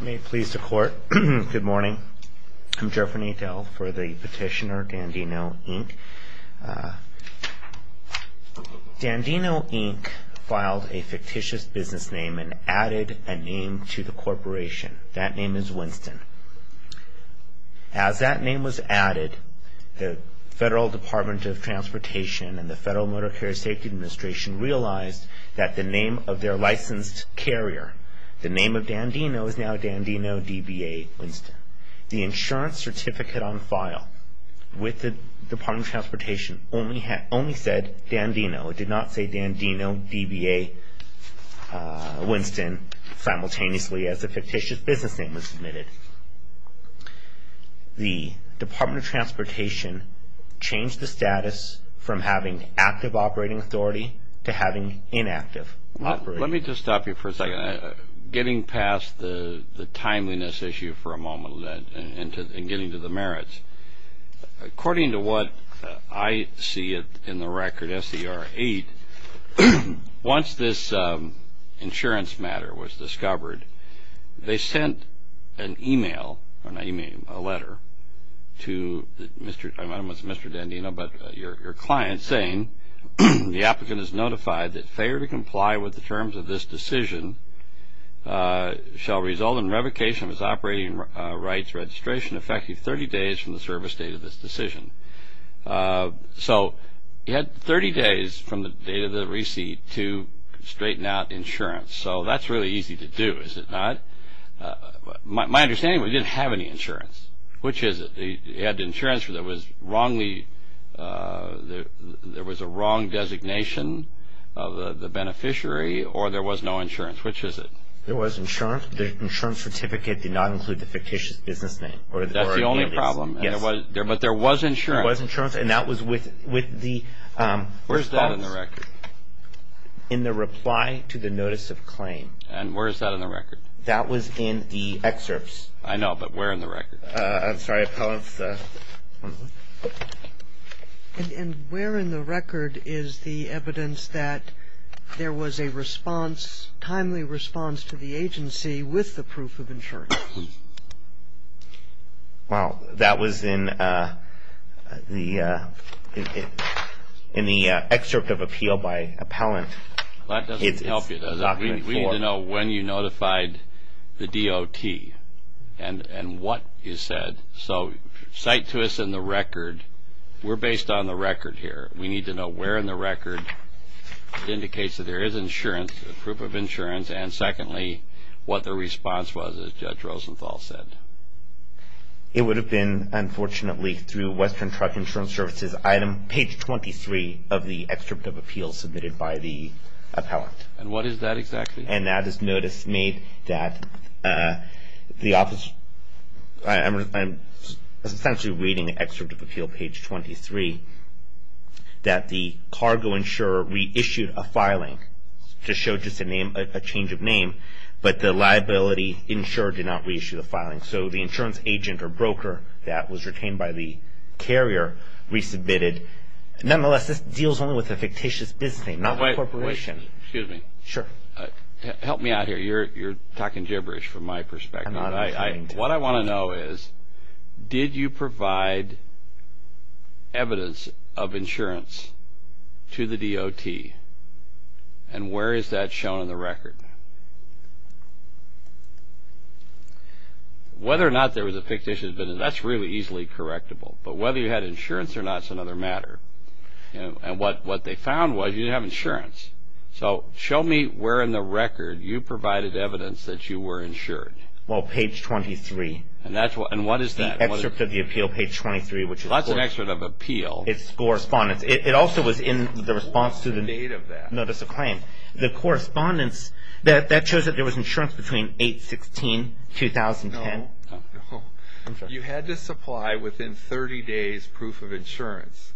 May it please the court, good morning. I'm Jeffrey Nadel for the petitioner Dandino, Inc. Dandino, Inc. filed a fictitious business name and added a name to the corporation. That name is Winston. As that name was added, the Federal Department of Transportation and the Federal Motor Carrier Safety Administration realized that the name of their licensed carrier, the name of Dandino, is now Dandino, DBA, Winston. The insurance certificate on file with the Department of Transportation only said Dandino. It did not say Dandino, DBA, Winston simultaneously as the fictitious business name was submitted. The Department of Transportation changed the status from having active operating authority to having inactive operating authority. Let me just stop you for a second. Getting past the timeliness issue for a moment and getting to the merits, according to what I see in the record SCR 8, once this insurance matter was discovered, they sent an email, not email, a letter to Mr. Dandino, but your name, and you said, in terms of this decision, shall result in revocation of his operating rights registration effective 30 days from the service date of this decision. So he had 30 days from the date of the receipt to straighten out insurance. So that's really easy to do, is it not? My understanding is he didn't have any insurance. Which is it? He had insurance that was wrongly, there was a wrong designation of the beneficiary or there was no insurance. Which is it? There was insurance. The insurance certificate did not include the fictitious business name. That's the only problem. Yes. But there was insurance. There was insurance and that was with the... Where's that in the record? In the reply to the notice of claim. And where is that in the record? That was in the excerpts. I know, but where in the record is the evidence that there was a response, timely response to the agency with the proof of insurance? Well, that was in the excerpt of appeal by Appellant. That doesn't help you. We need to know when you notified the DOT and what is said. So cite to us in the record. We're based on the record here. We need to know where in the record it indicates that there is insurance, proof of insurance and secondly, what the response was as Judge Rosenthal said. It would have been, unfortunately, through Western Truck Insurance Services item page 23 of the excerpt of appeal submitted by the Appellant. And what is that exactly? And that is notice made that the office... I'm essentially reading excerpts from the excerpt of appeal page 23 that the cargo insurer reissued a filing to show just a name, a change of name, but the liability insurer did not reissue the filing. So the insurance agent or broker that was retained by the carrier resubmitted. Nonetheless, this deals only with a fictitious business, not a corporation. Excuse me. Sure. Help me out here. You're providing evidence of insurance to the DOT and where is that shown in the record? Whether or not there was a fictitious business, that's really easily correctable. But whether you had insurance or not is another matter. And what they found was you didn't have insurance. So show me where in the record you provided evidence that you were insured. Well, page 23, which is... That's an excerpt of appeal. It's correspondence. It also was in the response to the notice of claim. The correspondence, that shows that there was insurance between 8-16-2010. No, no. You had to supply within 30 days proof of insurance.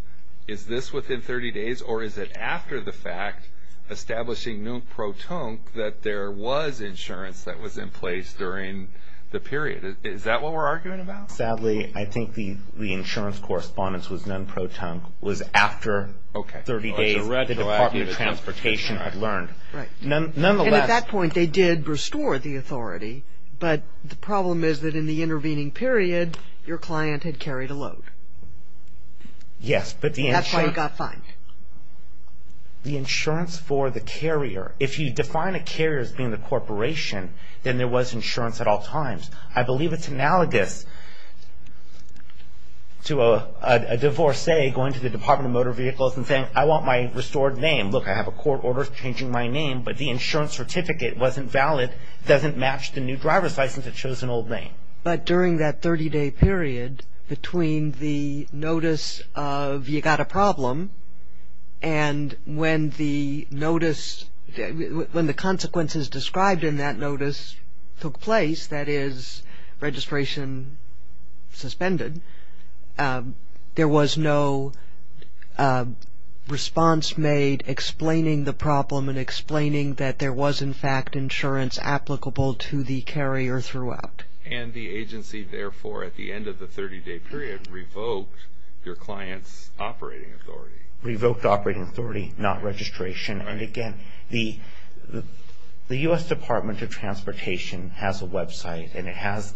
Is this within 30 days or is it after the fact establishing no pro tonque that there was insurance that was in place during the period? Is that what we're arguing about? Sadly, I think the insurance correspondence was non pro tonque. It was after 30 days the Department of Transportation had learned. Right. And at that point, they did restore the authority, but the problem is that in the intervening period, your client had carried a load. Yes, but the insurance... Then there was insurance at all times. I believe it's analogous to a divorcee going to the Department of Motor Vehicles and saying, I want my restored name. Look, I have a court order changing my name, but the insurance certificate wasn't valid. Doesn't match the new driver's license. It shows an old name. But during that 30-day period between the notice of you got a problem and when the notice... When the consequences described in that notice took place, that is registration suspended, there was no response made explaining the problem and explaining that there was in fact insurance applicable to the carrier throughout. And the agency therefore at the end of the 30-day period revoked your client's operating authority. Revoked operating authority, not registration. And again, the U.S. Department of Transportation has a website and it has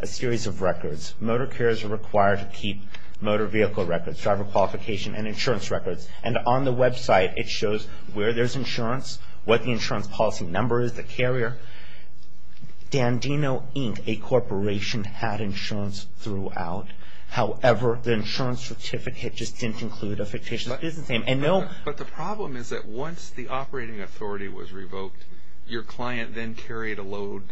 a series of records. Motor carriers are required to keep motor vehicle records, driver qualification, and insurance records. And on the website, it shows where there's insurance, what the insurance policy number is, the carrier. Dandino Inc., a corporation, had insurance throughout. However, the insurance certificate just didn't include a fictitious business name. But the problem is that once the operating authority was revoked, your client then carried a load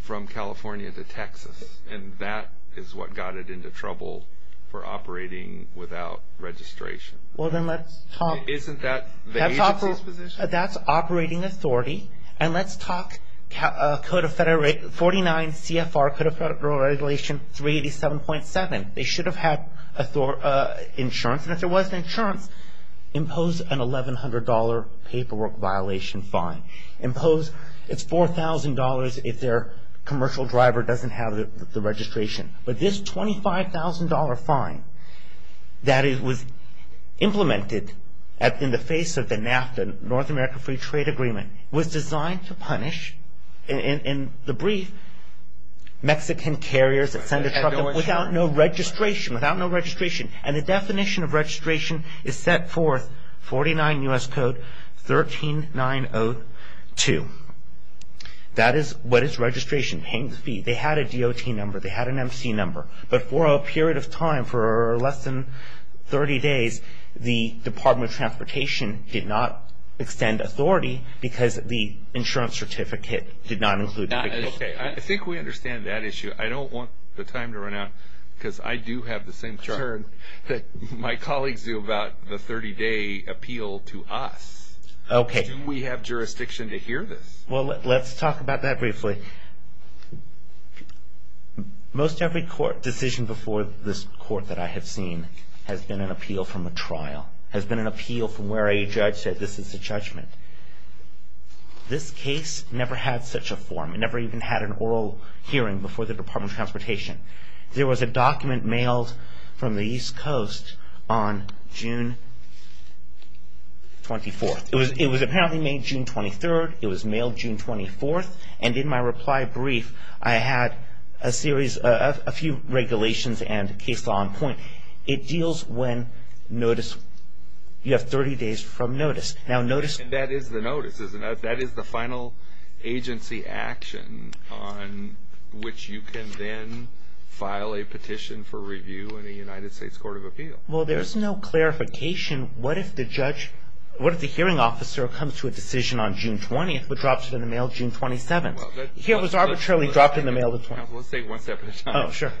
from California to Texas. And that is what got it into trouble for operating without registration. Well, then let's talk... Isn't that the agency's position? That's operating authority. And let's talk Code of Federal Regulation 387.7. They should have had insurance. And if there wasn't insurance, impose an $1,100 paperwork violation fee. Impose $4,000 if their commercial driver doesn't have the registration. But this $25,000 fine that was implemented in the face of the NAFTA, North American Free Trade Agreement, was designed to punish, in the brief, Mexican carriers that send a truck without no registration. And the definition of registration is set forth, 49 U.S. Code 13902. That is what is registration, paying the fee. They had a DOT number. They had an MC number. But for a period of time, for less than 30 days, the Department of Transportation did not extend authority because the insurance certificate did not include it. Okay. I think we understand that issue. I don't want the time to run out because I do have the same concern that my colleagues do about the 30-day appeal to us. Do we have jurisdiction to hear this? Let's talk about that briefly. Most every court decision before this court that I have seen has been an appeal from a trial, has been an appeal from where a judge said, this is the judgment. This case never had such a form. It never even had an oral hearing before the Department of Transportation. There was a document mailed from the East Coast on June 24th. It was apparently made June 23rd. It was mailed June 24th. And in my reply brief, I had a series, a few regulations and case law in point. It deals when notice, you have 30 days from notice. That is the notice, isn't it? That is the final agency action on which you can then file a petition for review in the United States Court of Appeal. Well, there's no clarification. What if the judge, what if the hearing officer comes to a decision on June 20th, but drops it in the mail June 27th? It was arbitrarily dropped in the mail the 27th. Let's say it one step at a time. Oh, sure.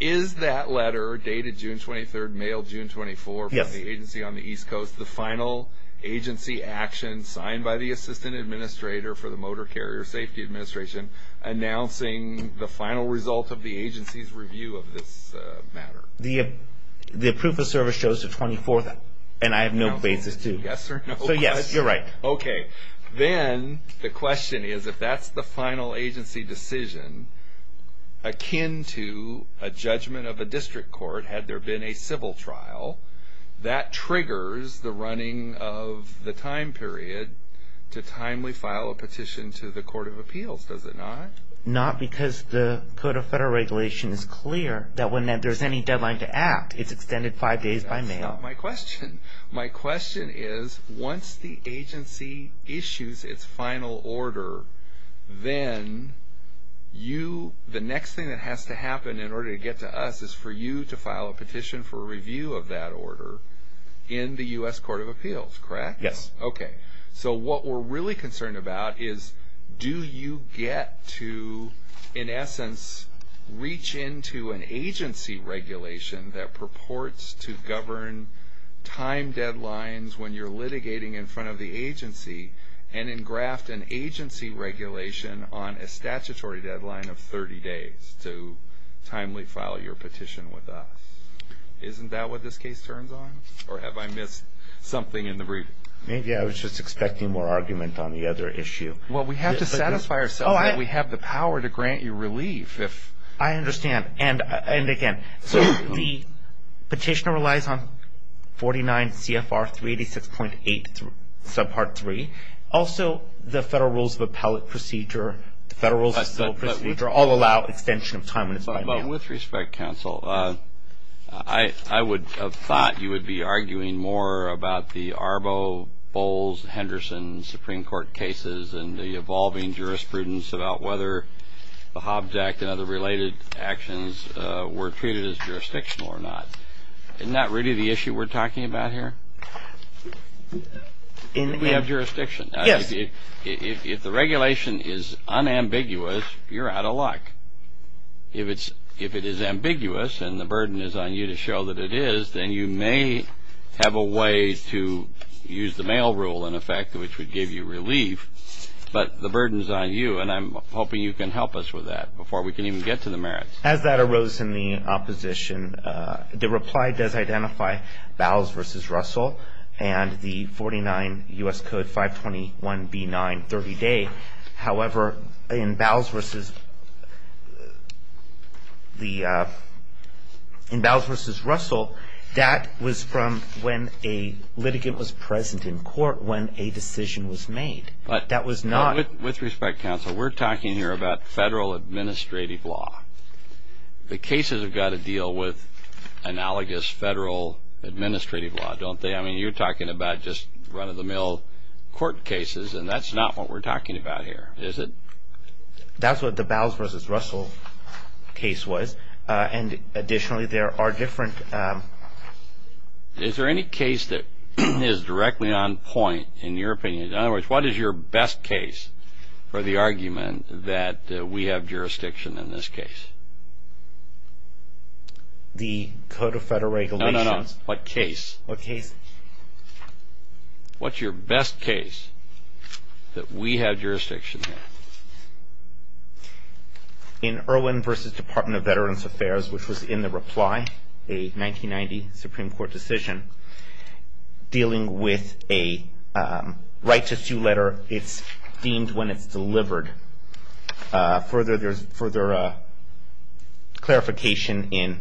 Is that letter, dated June 23rd, mailed June 24th, from the agency on the East Coast the final agency action signed by the Assistant Administrator for the Motor Carrier Safety Administration announcing the final result of the agency's review of this matter? The proof of service shows the 24th, and I have no basis to. Yes or no. So yes, you're right. Okay. Then the question is, if that's the final agency decision akin to a judgment of the time period, to timely file a petition to the Court of Appeals, does it not? Not because the Code of Federal Regulations is clear that when there's any deadline to act, it's extended five days by mail. That's not my question. My question is, once the agency issues its final order, then the next thing that has to happen in order to get to us is for you to file a petition for the Court of Appeals, correct? Yes. Okay. So what we're really concerned about is, do you get to, in essence, reach into an agency regulation that purports to govern time deadlines when you're litigating in front of the agency, and then graft an agency regulation on a statutory deadline of 30 days to timely file your petition with us? Isn't that what this case turns on? Or have I missed something? Maybe I was just expecting more argument on the other issue. Well, we have to satisfy ourselves that we have the power to grant you relief. I understand. And again, the petitioner relies on 49 CFR 386.8 subpart 3. Also, the Federal Rules of Appellate Procedure, the Federal Rules of Civil Procedure all allow extension of time when it's by mail. With respect, counsel, I would have thought you would be arguing more about the Arbo, Bowles, Henderson Supreme Court cases and the evolving jurisprudence about whether the Hobbs Act and other related actions were treated as jurisdictional or not. Isn't that really the issue we're talking about here? We have jurisdiction. Yes. If the regulation is unambiguous, you're out of luck. If it is ambiguous and the burden is on you to show that it is, then you may have a way to use the mail rule, in effect, which would give you relief. But the burden is on you, and I'm hoping you can help us with that before we can even get to the merits. As that arose in the opposition, the reply does identify Bowles v. Russell and the 49 U.S. Code 521B9, 30-day. However, in Bowles v. Russell, that was from when a litigant was present in court when a decision was made. That was not With respect, counsel, we're talking here about federal administrative law. The cases have got to deal with analogous federal administrative law, don't they? I mean, you're talking about just run-of-the-mill court cases, and that's not what we're talking about here, is it? That's what the Bowles v. Russell case was, and additionally, there are different Is there any case that is directly on point, in your opinion? In other words, what is your best case for the argument that we have jurisdiction in this case? The Code of Federal Regulations No, no, no. What case? What's your best case that we have jurisdiction in? In Irwin v. Department of Veterans Affairs, which was in the reply, a 1990 Supreme Court decision dealing with a right-to-sue letter. It's deemed when it's delivered. Further clarification,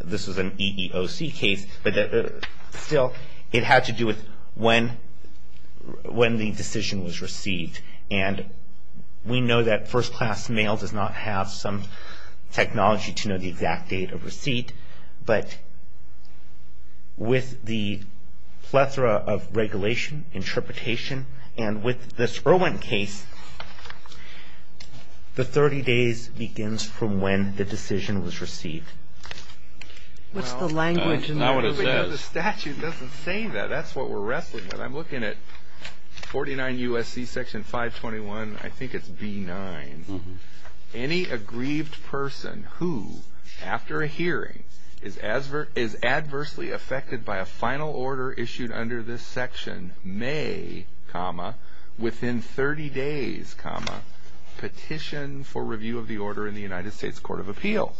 this was an EEOC case, but still, it had to do with when the decision was received, and we know that first-class mail does not have some technology to know the exact date of receipt, but with the plethora of regulation, interpretation, and with this case, 30 days begins from when the decision was received. What's the language in there? Well, the statute doesn't say that. That's what we're wrestling with. I'm looking at 49 U.S.C. section 521, I think it's B-9. Any aggrieved person who, after a hearing, is adversely affected by a final order issued under this section may, comma, within 30 days, comma, petition for review of the order in the United States Court of Appeals.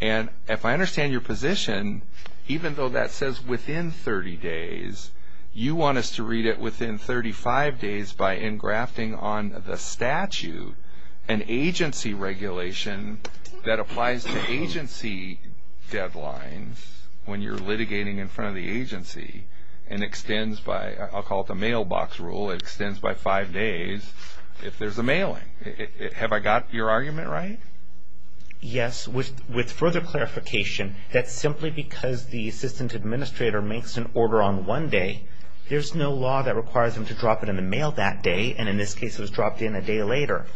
And if I understand your position, even though that says within 30 days, you want us to read it within 35 days by engrafting on the statute an agency regulation that applies to agency deadlines when you're litigating in front of the agency, and extends by, I'll call it a deadline, there's a mailing. Have I got your argument right? Yes. With further clarification, that's simply because the assistant administrator makes an order on one day. There's no law that requires them to drop it in the mail that day, and in this case, it was dropped in a day later.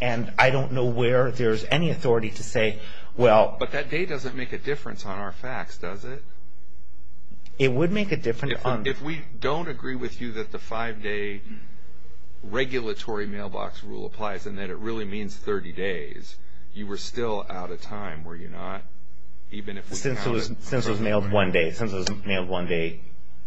And I don't know where there's any authority to say, well... But that day doesn't make a difference on our facts, does it? It would make a difference on... If we don't agree with you that the five-day regulatory mailbox rule applies, and that it really means 30 days, you were still out of time, were you not? Since it was mailed one day, since it was mailed one day,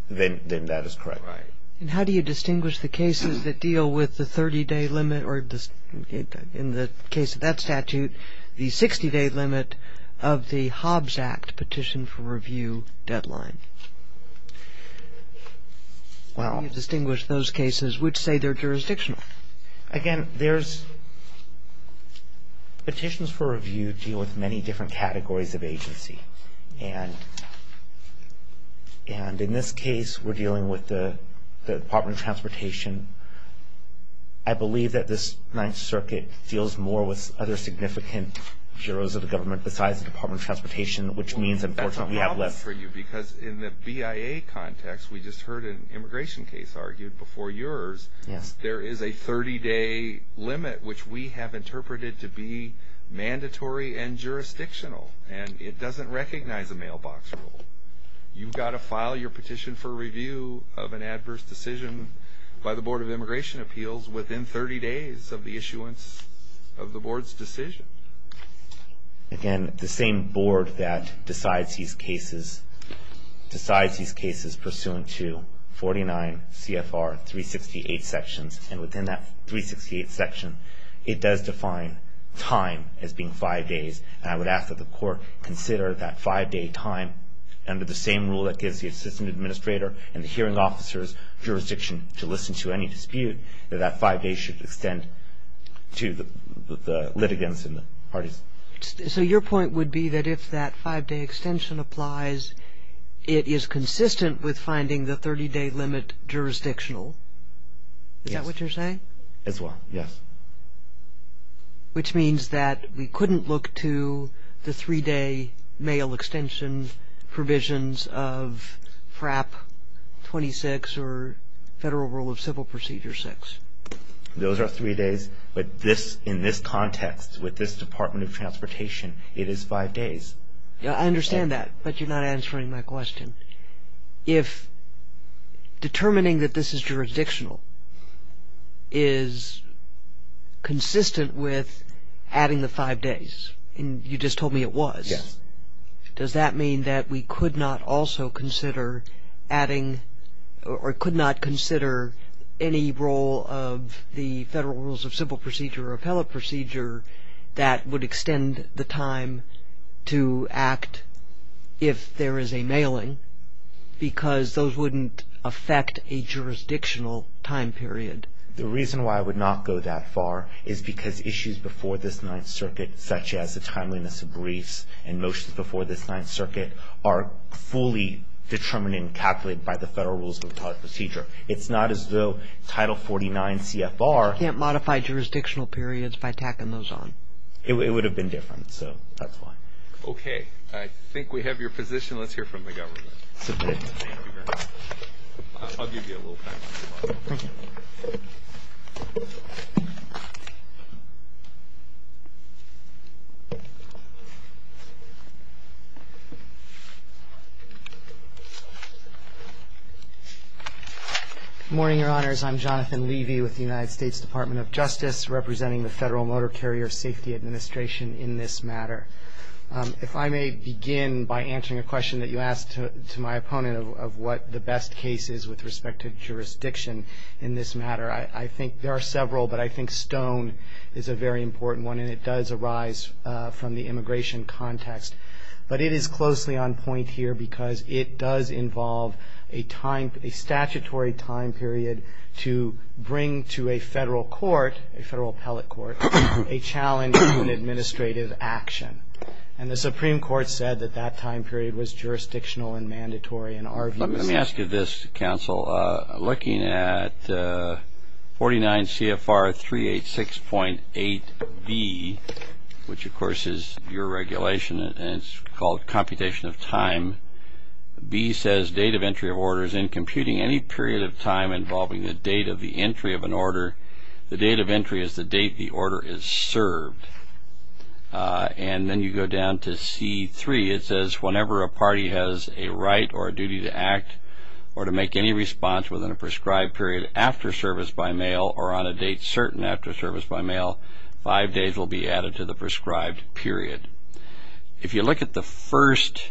then that is correct. Right. And how do you distinguish the cases that deal with the 30-day limit, or in the case of that statute, the 60-day limit of the Hobbs Act petition for review deadline? Well... How do you distinguish those cases which say they're jurisdictional? Again, there's... Petitions for review deal with many different categories of agency. And in this case, we're dealing with the Department of Transportation. I believe that this Ninth Circuit deals more with other significant bureaus of the government besides the Department of Transportation, which means, unfortunately, we have less... We just heard an immigration case argued before yours. Yes. There is a 30-day limit, which we have interpreted to be mandatory and jurisdictional, and it doesn't recognize a mailbox rule. You've got to file your petition for review of an adverse decision by the Board of Immigration Appeals within 30 days of the issuance of the board's decision. Again, the same board that decides these cases pursuant to 49 CFR 368 sections, and within that 368 section, it does define time as being five days. And I would ask that the court consider that five-day time under the same rule that gives the assistant administrator and the hearing officer's jurisdiction to listen to any dispute, that that five days should extend to the litigants and the parties. So your point would be that if that five-day extension applies, it is consistent with finding the 30-day limit jurisdictional. Is that what you're saying? As well, yes. Which means that we couldn't look to the three-day mail extension provisions of FRAP 26 or Federal Rule of Civil Procedure 6. Those are three days, but in this context, with this Department of Transportation, it is five days. I understand that, but you're not answering my question. If determining that this is jurisdictional is consistent with adding the five days, and you just told me it was, does that mean that we could not also consider adding or could not consider any role of the Federal Rules of Civil Procedure or Appellate Procedure that would extend the time to act if there is a mailing, because those wouldn't affect a jurisdictional time period? The reason why I would not go that far is because issues before this Ninth Circuit, such as the timeliness of briefs and motions before this Ninth Circuit, are fully determined and calculated by the Federal Rules of Appellate Procedure. It's not as though Title 49 CFR can't modify jurisdictional periods by tacking those on. It would have been different, so that's why. Okay. I think we have your position. Let's hear from the government. Good morning, Your Honors. I'm Jonathan Levy with the United States Department of Justice, representing the Federal Motor Carrier Safety Administration in this matter. If I may begin by answering a question that you asked to my opponent of what the best case is with respect to jurisdiction in this matter. I think there are several, but I think this is the most important one, and it does arise from the immigration context. But it is closely on point here, because it does involve a statutory time period to bring to a Federal Court, a Federal Appellate Court, a challenge to an administrative action. And the Supreme Court said that that time period was jurisdictional and mandatory in our views. Let me ask you this, Counsel. Looking at 49 CFR 386.89, what does that mean? Well, B, which of course is your regulation, and it's called computation of time. B says date of entry of orders. In computing any period of time involving the date of the entry of an order, the date of entry is the date the order is served. And then you go down to C3. It says whenever a party has a right or a duty to act or to make any response within a prescribed period after service by mail or on a date certain after service by mail, five days will be added to the prescribed period. If you look at the first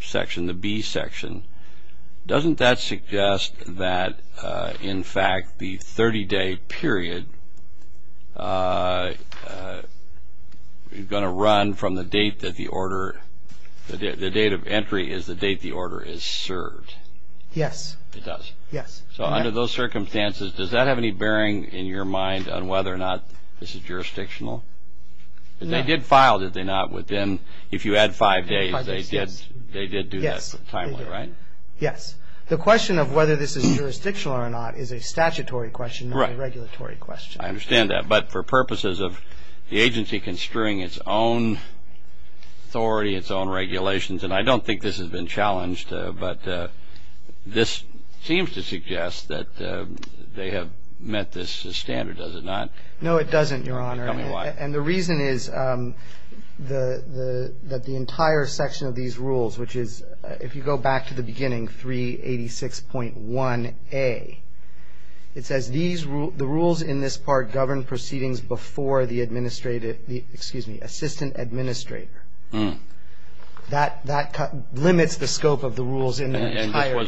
section, the B section, doesn't that suggest that, in fact, the 30-day period is going to run from the date that the order, the date of entry is the date the order is served? Yes. It does? Yes. So under those circumstances, does that have any bearing in your mind on whether or not this is jurisdictional? No. Because they did file, did they not, within, if you add five days, they did do that timely, right? Yes. The question of whether this is jurisdictional or not is a statutory question, not a regulatory question. I understand that. But for purposes of the agency construing its own authority, its own regulations, and I don't think this has been challenged, but this seems to suggest that they have met this standard, does it not? No, it doesn't, Your Honor. Tell me why. And the reason is that the entire section of these rules, which is, if you go back to the beginning, 386.1A, it says, the rules in this part govern proceedings before the administrative, excuse me, assistant administrator. That limits the scope of the rules in their entirety. And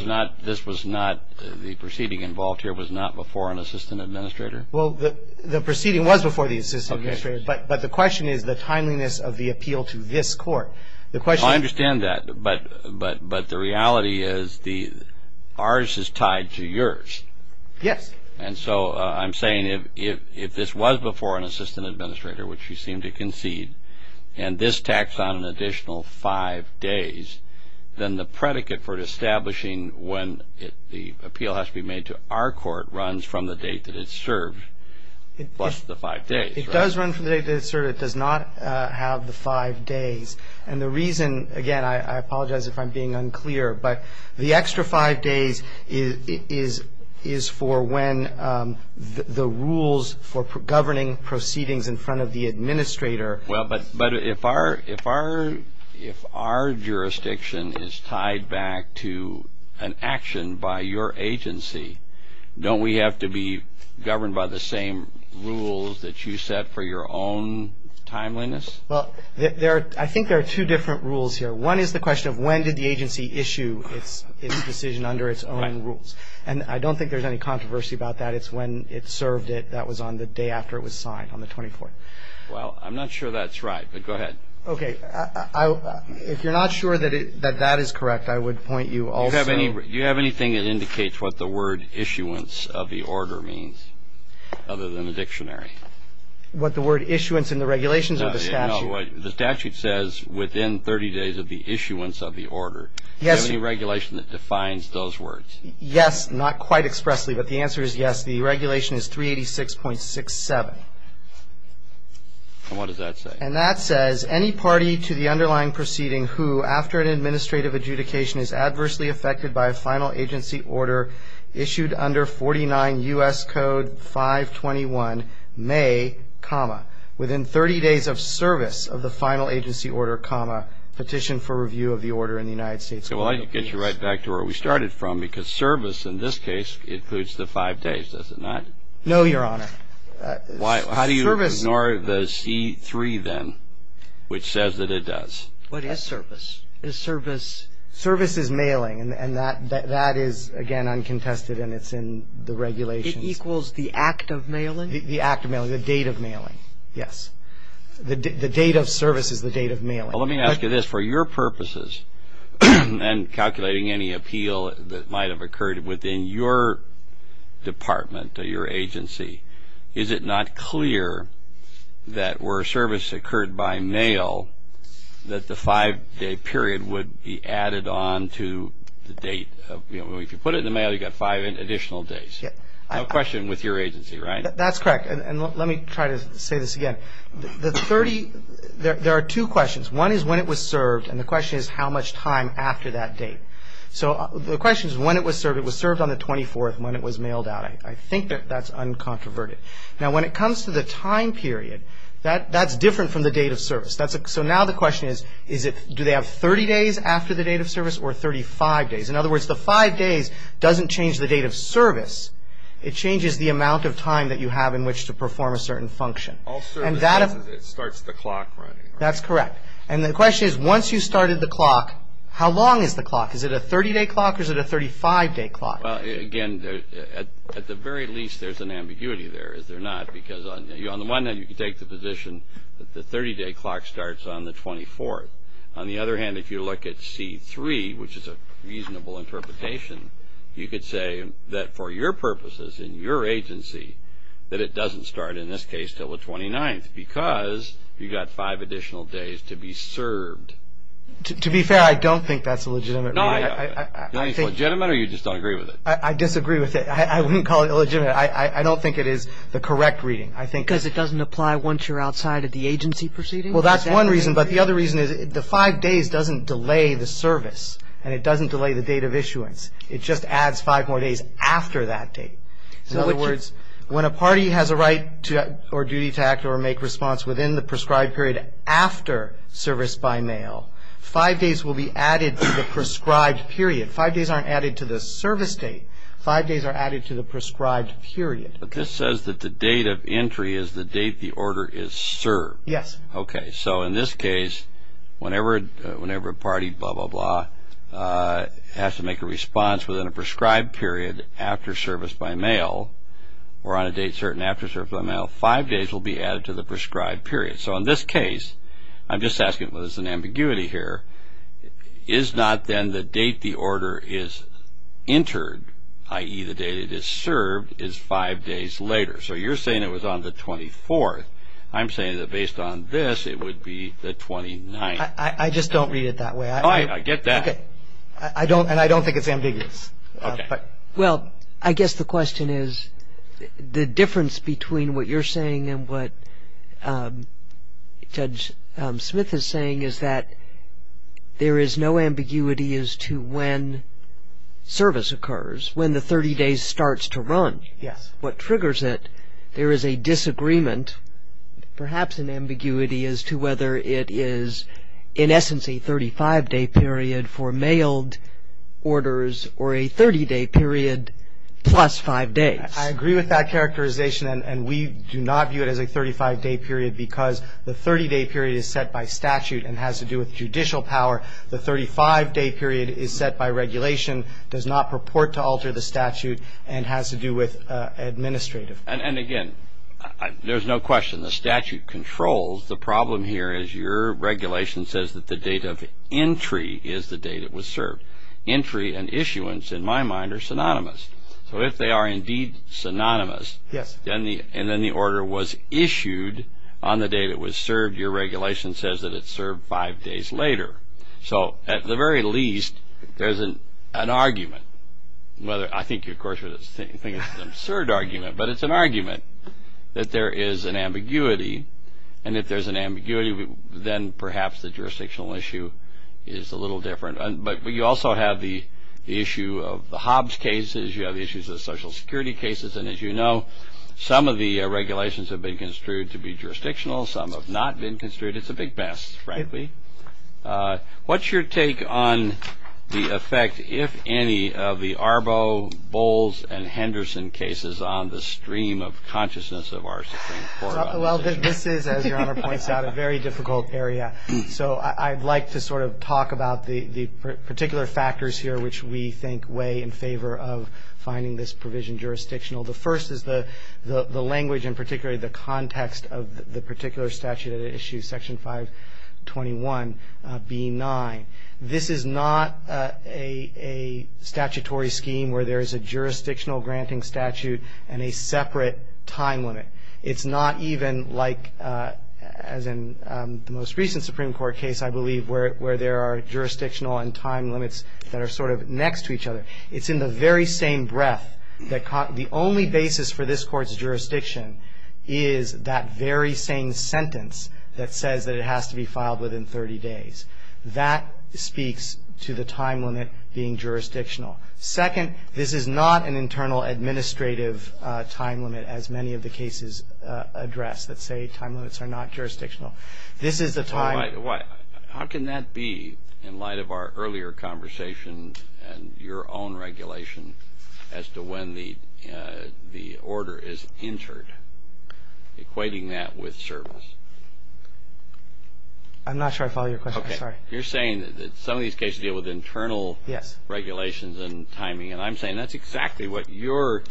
this was not, the proceeding involved here was not before an assistant administrator? Well, the proceeding was before the assistant administrator, but the question is the timeliness of the appeal to this court. The question is I understand that, but the reality is ours is tied to yours. Yes. And so I'm saying if this was before an assistant administrator, which you seem to concede, and this tacks on an additional five days, then the predicate for establishing when the appeal has to be made to our court runs from the date that it's served plus the five days, right? It does run from the date that it's served. It does not have the five days. And the reason, again, I apologize if I'm being unclear, but the extra five days is for when the rules for governing proceedings in front of the administrator. Well, but if our jurisdiction is tied back to an action by your agency, don't we have to be governed by the same rules that you set for your own timeliness? Well, I think there are two different rules here. One is the question of when did the agency issue its decision under its own rules. And I don't think there's any controversy about that. It's when it served it. That was on the day after it was signed, on the 24th. Well, I'm not sure that's right, but go ahead. Okay. If you're not sure that that is correct, I would point you also Do you have anything that indicates what the word issuance of the order means other than the dictionary? What the word issuance in the regulations or the statute? The statute says within 30 days of the issuance of the order. Yes. Do you have any regulation that defines those words? Yes. Not quite expressly, but the answer is yes. The regulation is 386.67. And what does that say? And that says any party to the underlying proceeding who, after an administrative adjudication, is adversely affected by a final agency order issued under 49 U.S. Code 521, may be subject to a final agency order issued under 49 U.S. Code 521, may, comma, within 30 days of service of the final agency order, comma, petition for review of the order in the United States Court of Appeals. Well, I'll get you right back to where we started from, because service in this case includes the five days, does it not? No, Your Honor. Why? How do you ignore the C-3, then, which says that it does? What is service? Is service mailing? And that is, again, uncontested, and it's in the regulations. It equals the act of mailing? The act of mailing. The date of mailing. Yes. The date of service is the date of mailing. Well, let me ask you this. For your purposes, and calculating any appeal that might have occurred within your department or your agency, is it not clear that were service occurred by mail that the five-day period would be added on to the date? If you put it in the mail, you've got five additional days. Yes. No question with your agency, right? That's correct. And let me try to say this again. The 30, there are two questions. One is when it was served, and the question is how much time after that date. So the question is when it was served. It was served on the 24th when it was mailed out. I think that that's uncontroverted. Now when it comes to the time period, that's different from the date of service. So now the question is, do they have 30 days after the date of service or 35 days? In other words, the five days doesn't change the date of service. It changes the amount of time that you have in which to perform a certain function. All service does is it starts the clock, right? That's correct. And the question is, once you started the clock, how long is the clock? Is it a 30-day clock or is it a 35-day clock? Well, again, at the very least, there's an ambiguity there, is there not? Because on the one hand, you can take the position that the 30-day clock starts on the 24th. On the other hand, if you look at C3, which is a reasonable interpretation, you could say that for your purposes in your agency that it doesn't start, in this case, till the 29th because you got five additional days to be served. To be fair, I don't think that's a legitimate rule. No, I think it's legitimate or you just don't agree with it? I disagree with it. I wouldn't call it legitimate. I don't think it is the correct reading. Because it doesn't apply once you're outside of the agency proceeding? Well, that's one reason. But the other reason is the five days doesn't delay the service and it doesn't delay the date of issuance. It just adds five more days after that date. In other words, when a party has a right or duty to act or make response within the prescribed period after service by mail, five days will be added to the prescribed period. Five days aren't added to the service date. Five days are added to the prescribed period. But this says that the date of entry is the date the order is served. Yes. Okay. So in this case, whenever a party, blah, blah, blah, has to make a response within a prescribed period after service by mail or on a date certain after service by mail, five days will be added to the prescribed period. So in this case, I'm just asking whether it's an ambiguity here, is not then the date the order is entered, i.e., the date it is served, is five days later. So you're saying it was on the 24th. I'm saying that based on this, it would be the 29th. I just don't read it that way. I get that. Okay. And I don't think it's ambiguous. Okay. Well, I guess the question is, the difference between what you're saying and what Judge Smith is saying is that there is no ambiguity as to when service occurs, when the 30 days starts to run, what triggers it. There is a disagreement, perhaps an ambiguity, as to whether it is, in essence, a 35-day period for mailed orders or a 30-day period plus five days. I agree with that characterization, and we do not view it as a 35-day period because the 30-day period is set by statute and has to do with judicial power. The 35-day period is set by regulation, does not purport to alter the statute, and has to do with administrative. And again, there's no question the statute controls. The problem here is your regulation says that the date of entry is the date it was served. Entry and issuance, in my mind, are synonymous. So if they are indeed synonymous, and then the order was issued on the date it was served, your regulation says that it's served five days later. So at the very least, there's an argument. I think you, of course, would think it's an absurd argument, but it's an argument that there is an ambiguity. And if there's an ambiguity, then perhaps the jurisdictional issue is a little different. But you also have the issue of the Hobbs cases. You have the issues of the Social Security cases. And as you know, some of the regulations have been construed to be jurisdictional. Some have not been construed. It's a big mess, frankly. What's your take on the effect, if any, of the Arbo, Bowles, and Henderson cases on the stream of consciousness of our Supreme Court? Well, this is, as Your Honor points out, a very difficult area. So I'd like to sort of talk about the particular factors here which we think weigh in favor of finding this provision jurisdictional. The first is the language, and particularly the context of the particular statute at issue, Section 521B9. This is not a statutory scheme where there is a jurisdictional granting statute and a separate time limit. It's not even like, as in the most recent Supreme Court case, I believe, where there are jurisdictional and time limits that are sort of next to each other. It's in the very same breath. The only basis for this Court's sentence that says that it has to be filed within 30 days, that speaks to the time limit being jurisdictional. Second, this is not an internal administrative time limit, as many of the cases address that say time limits are not jurisdictional. This is the time… How can that be, in light of our earlier conversation and your own regulation as to when the order is entered, equating that with service? I'm not sure I follow your question. Sorry. Okay. You're saying that some of these cases deal with internal regulations and timing, and I'm saying that's exactly what your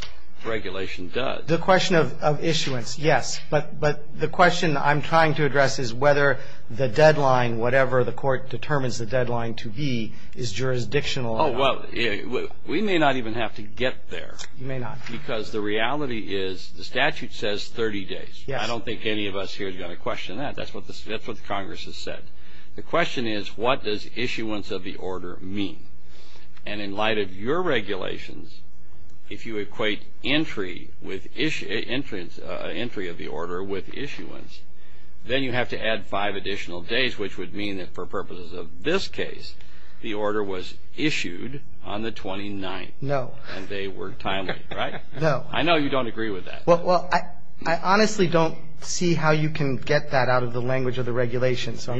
regulation does. The question of issuance, yes. But the question I'm trying to address is whether the deadline, whatever the Court determines the deadline to be, is jurisdictional or not. Oh, well, we may not even have to get there. You may not. Because the reality is the statute says 30 days. Yes. I don't think any of us here is going to question that. That's what Congress has said. The question is, what does issuance of the order mean? And in light of your regulations, if you equate entry of the order with issuance, then you have to add five additional days, which would mean that for purposes of this case, the order was issued on the 29th. No. And they were timely, right? No. I know you don't agree with that. Well, I honestly don't see how you can get that out of the language of the regulation. So I'm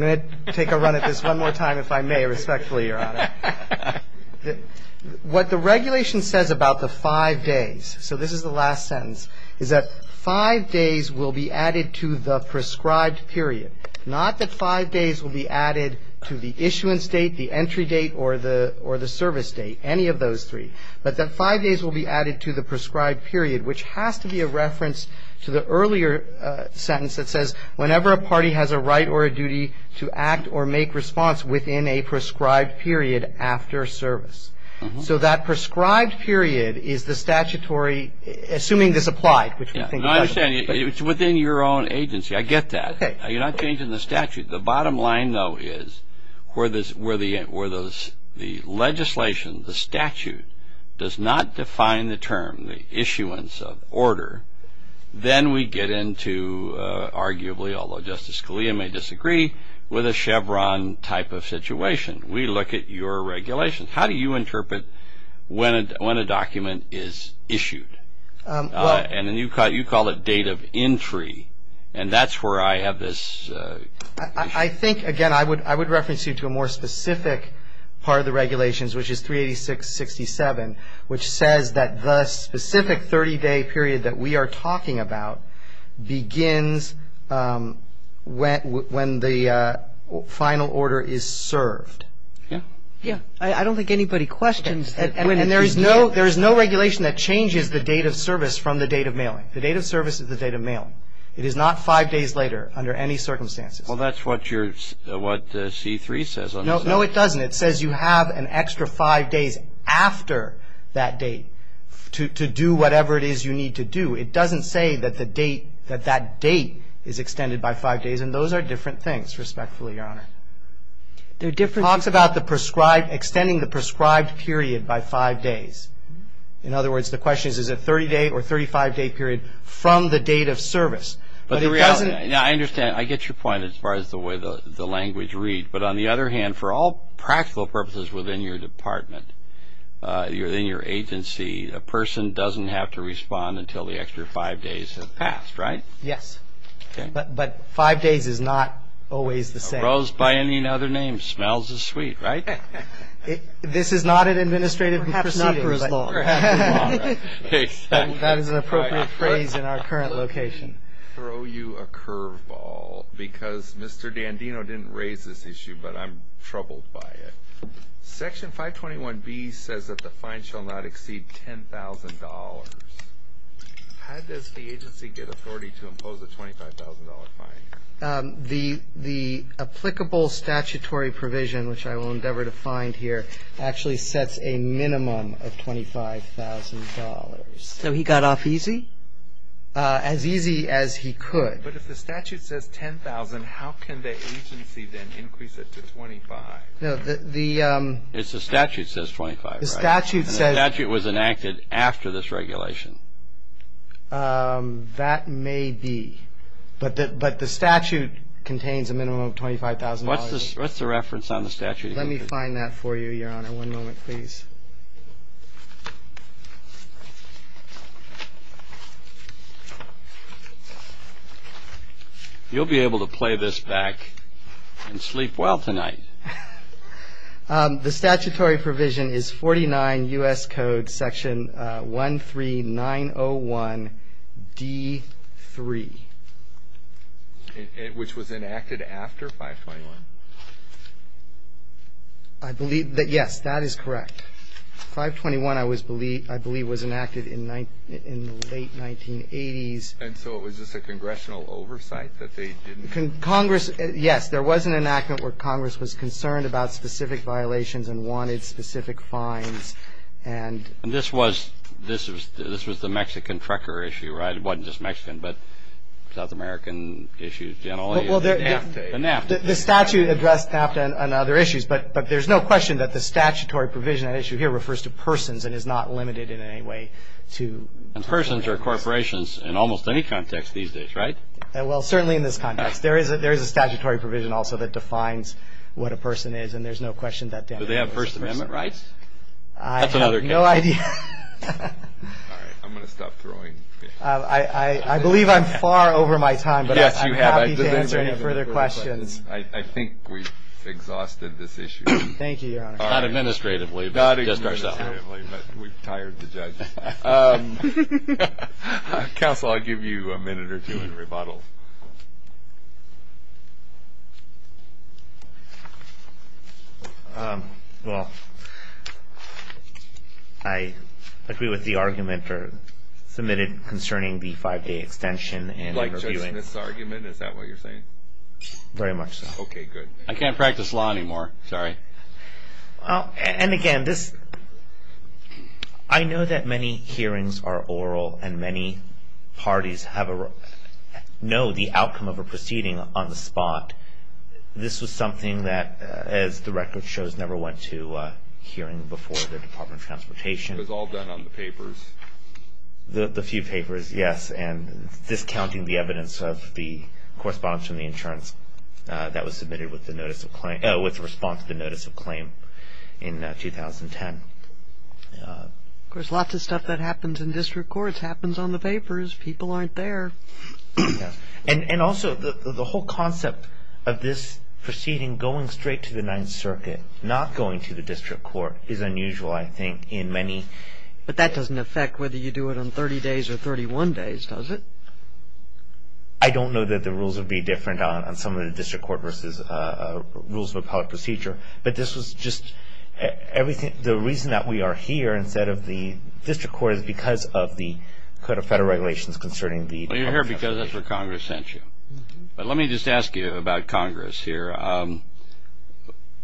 going to take a run at this one more time, if I may, respectfully, Your Honor. What the regulation says about the five days, so this is the last sentence, is that five days will be added to the prescribed period. Not that five days will be added to the issuance date, the entry date, or the service date. Any of those three. But that five days will be added to the prescribed period, which has to be a reference to the earlier sentence that says, whenever a party has a right or a duty to act or make response within a prescribed period after service. So that prescribed period is the statutory, assuming this applied, which we think it does. I understand. It's within your own agency. I get that. Okay. You're not changing the statute. The bottom line, though, is where the legislation, the statute, does not define the term, the issuance of order, then we get into, arguably, although Justice Scalia may disagree, with a Chevron type of situation. We look at your regulations. How do you interpret when a document is issued? And then you call it date of entry, and that's where I have this. I think, again, I would reference you to a more specific part of the regulations, which is 386-67, which says that the specific 30-day period that we are talking about begins when the final order is served. Yeah. I don't think anybody questions that. And there is no regulation that changes the date of service from the date of mailing. The date of service is the date of mailing. It is not five days later under any circumstances. Well, that's what your, what C-3 says on this. No, it doesn't. It says you have an extra five days after that date to do whatever it is you need to do. It doesn't say that the date, that that date is extended by five days, and those are different things, respectfully, Your Honor. There are different things. It talks about the prescribed, extending the prescribed period by five days. In other words, the question is, is it a 30-day or a 35-day period from the date of service? But the reality, I understand, I get your point as far as the way the language reads. But on the other hand, for all practical purposes within your department, within your agency, a person doesn't have to respond until the extra five days have passed, right? Yes. But five days is not always the same. A rose by any other name smells as sweet, right? This is not an administrative proceeding. Perhaps not for as long. That is an appropriate phrase in our current location. I'll throw you a curveball because Mr. Dandino didn't raise this issue, but I'm troubled by it. Section 521B says that the fine shall not exceed $10,000. How does the agency get authority to impose a $25,000 fine? The applicable statutory provision, which I will endeavor to find here, actually sets a minimum of $25,000. So he got off easy? As easy as he could. But if the statute says $10,000, how can the agency then increase it to $25,000? No, the- It's the statute says $25,000, right? The statute says- The statute was enacted after this regulation. That may be. But the statute contains a minimum of $25,000. What's the reference on the statute? Let me find that for you, Your Honor. One moment, please. You'll be able to play this back and sleep well tonight. The statutory provision is 49 U.S. Code Section 13901D3. Which was enacted after 521? I believe that, yes, that is correct. 521, I believe, was enacted in the late 1980s. And so it was just a congressional oversight that they didn't- Yes, there was an enactment where Congress was concerned about specific violations and wanted specific fines and- And this was the Mexican trucker issue, right? It wasn't just Mexican, but South American issues generally. The NAFTA. The NAFTA. The statute addressed NAFTA and other issues, but there's no question that the statutory provision at issue here refers to persons and is not limited in any way to- And persons are corporations in almost any context these days, right? Well, certainly in this context. There is a statutory provision also that defines what a person is, and there's no question that- Do they have First Amendment rights? That's another question. I have no idea. All right, I'm going to stop throwing. I believe I'm far over my time, but I'm happy to answer any further questions. I think we've exhausted this issue. Thank you, Your Honor. Not administratively, but just ourselves. Not administratively, but we've tired the judge. Counsel, I'll give you a minute or two in rebuttal. Well, I agree with the argument submitted concerning the five-day extension. Like Judge Smith's argument? Is that what you're saying? Very much so. Okay, good. I can't practice law anymore. Sorry. And again, I know that many hearings are oral and many parties know the outcome of a proceeding on the spot. This was something that, as the record shows, never went to hearing before the Department of Transportation. It was all done on the papers. The few papers, yes, and discounting the evidence of the correspondence from the insurance that was submitted with the response to the notice of claim in 2010. Of course, lots of stuff that happens in district courts happens on the papers. People aren't there. And also, the whole concept of this proceeding going straight to the Ninth Circuit, not going to the district court, is unusual, I think, in many. But that doesn't affect whether you do it on 30 days or 31 days, does it? I don't know that the rules would be different on some of the district court versus rules of appellate procedure, but this was just everything. The reason that we are here instead of the district court is because of the Code of Federal Regulations concerning the- Well, you're here because that's where Congress sent you. But let me just ask you about Congress here.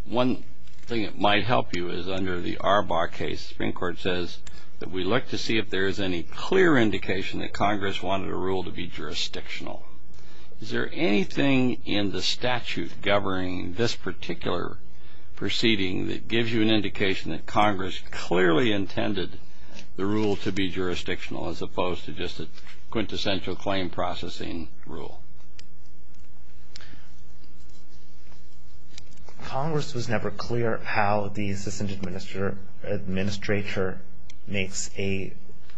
One thing that might help you is under the Arbaugh case, Supreme Court says that we look to see if there is any clear indication that Congress wanted a rule to be jurisdictional. Is there anything in the statute governing this particular proceeding that gives you an indication that Congress clearly intended the rule to be jurisdictional as opposed to just a quintessential claim processing rule? Congress was never clear how the assistant administrator makes a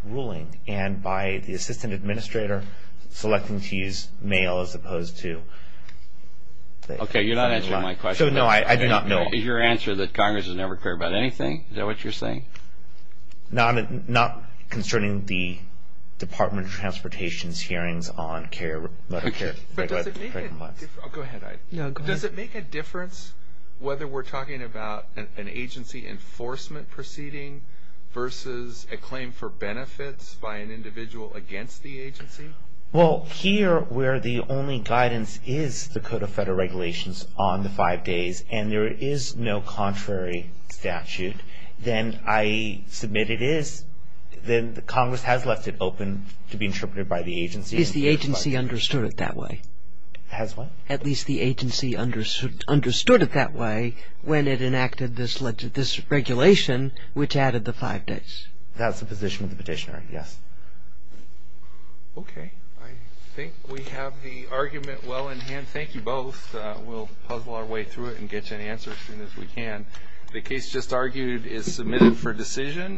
ruling. And by the assistant administrator, selecting to use mail as opposed to- Okay, you're not answering my question. No, I do not know. Your answer is that Congress was never clear about anything. Is that what you're saying? Not concerning the Department of Transportation's hearings on carrier- But does it make a difference- Go ahead. Does it make a difference whether we're talking about an agency enforcement proceeding versus a claim for benefits by an individual against the agency? Well, here where the only guidance is the Code of Federal Regulations on the five days and there is no contrary statute, then I submit it is, then Congress has left it open to be interpreted by the agency- Is the agency understood it that way? Has what? At least the agency understood it that way when it enacted this regulation which added the five days. That's the position of the petitioner, yes. Okay, I think we have the argument well in hand. Thank you both. We'll puzzle our way through it and get you an answer as soon as we can. The case just argued is submitted for decision.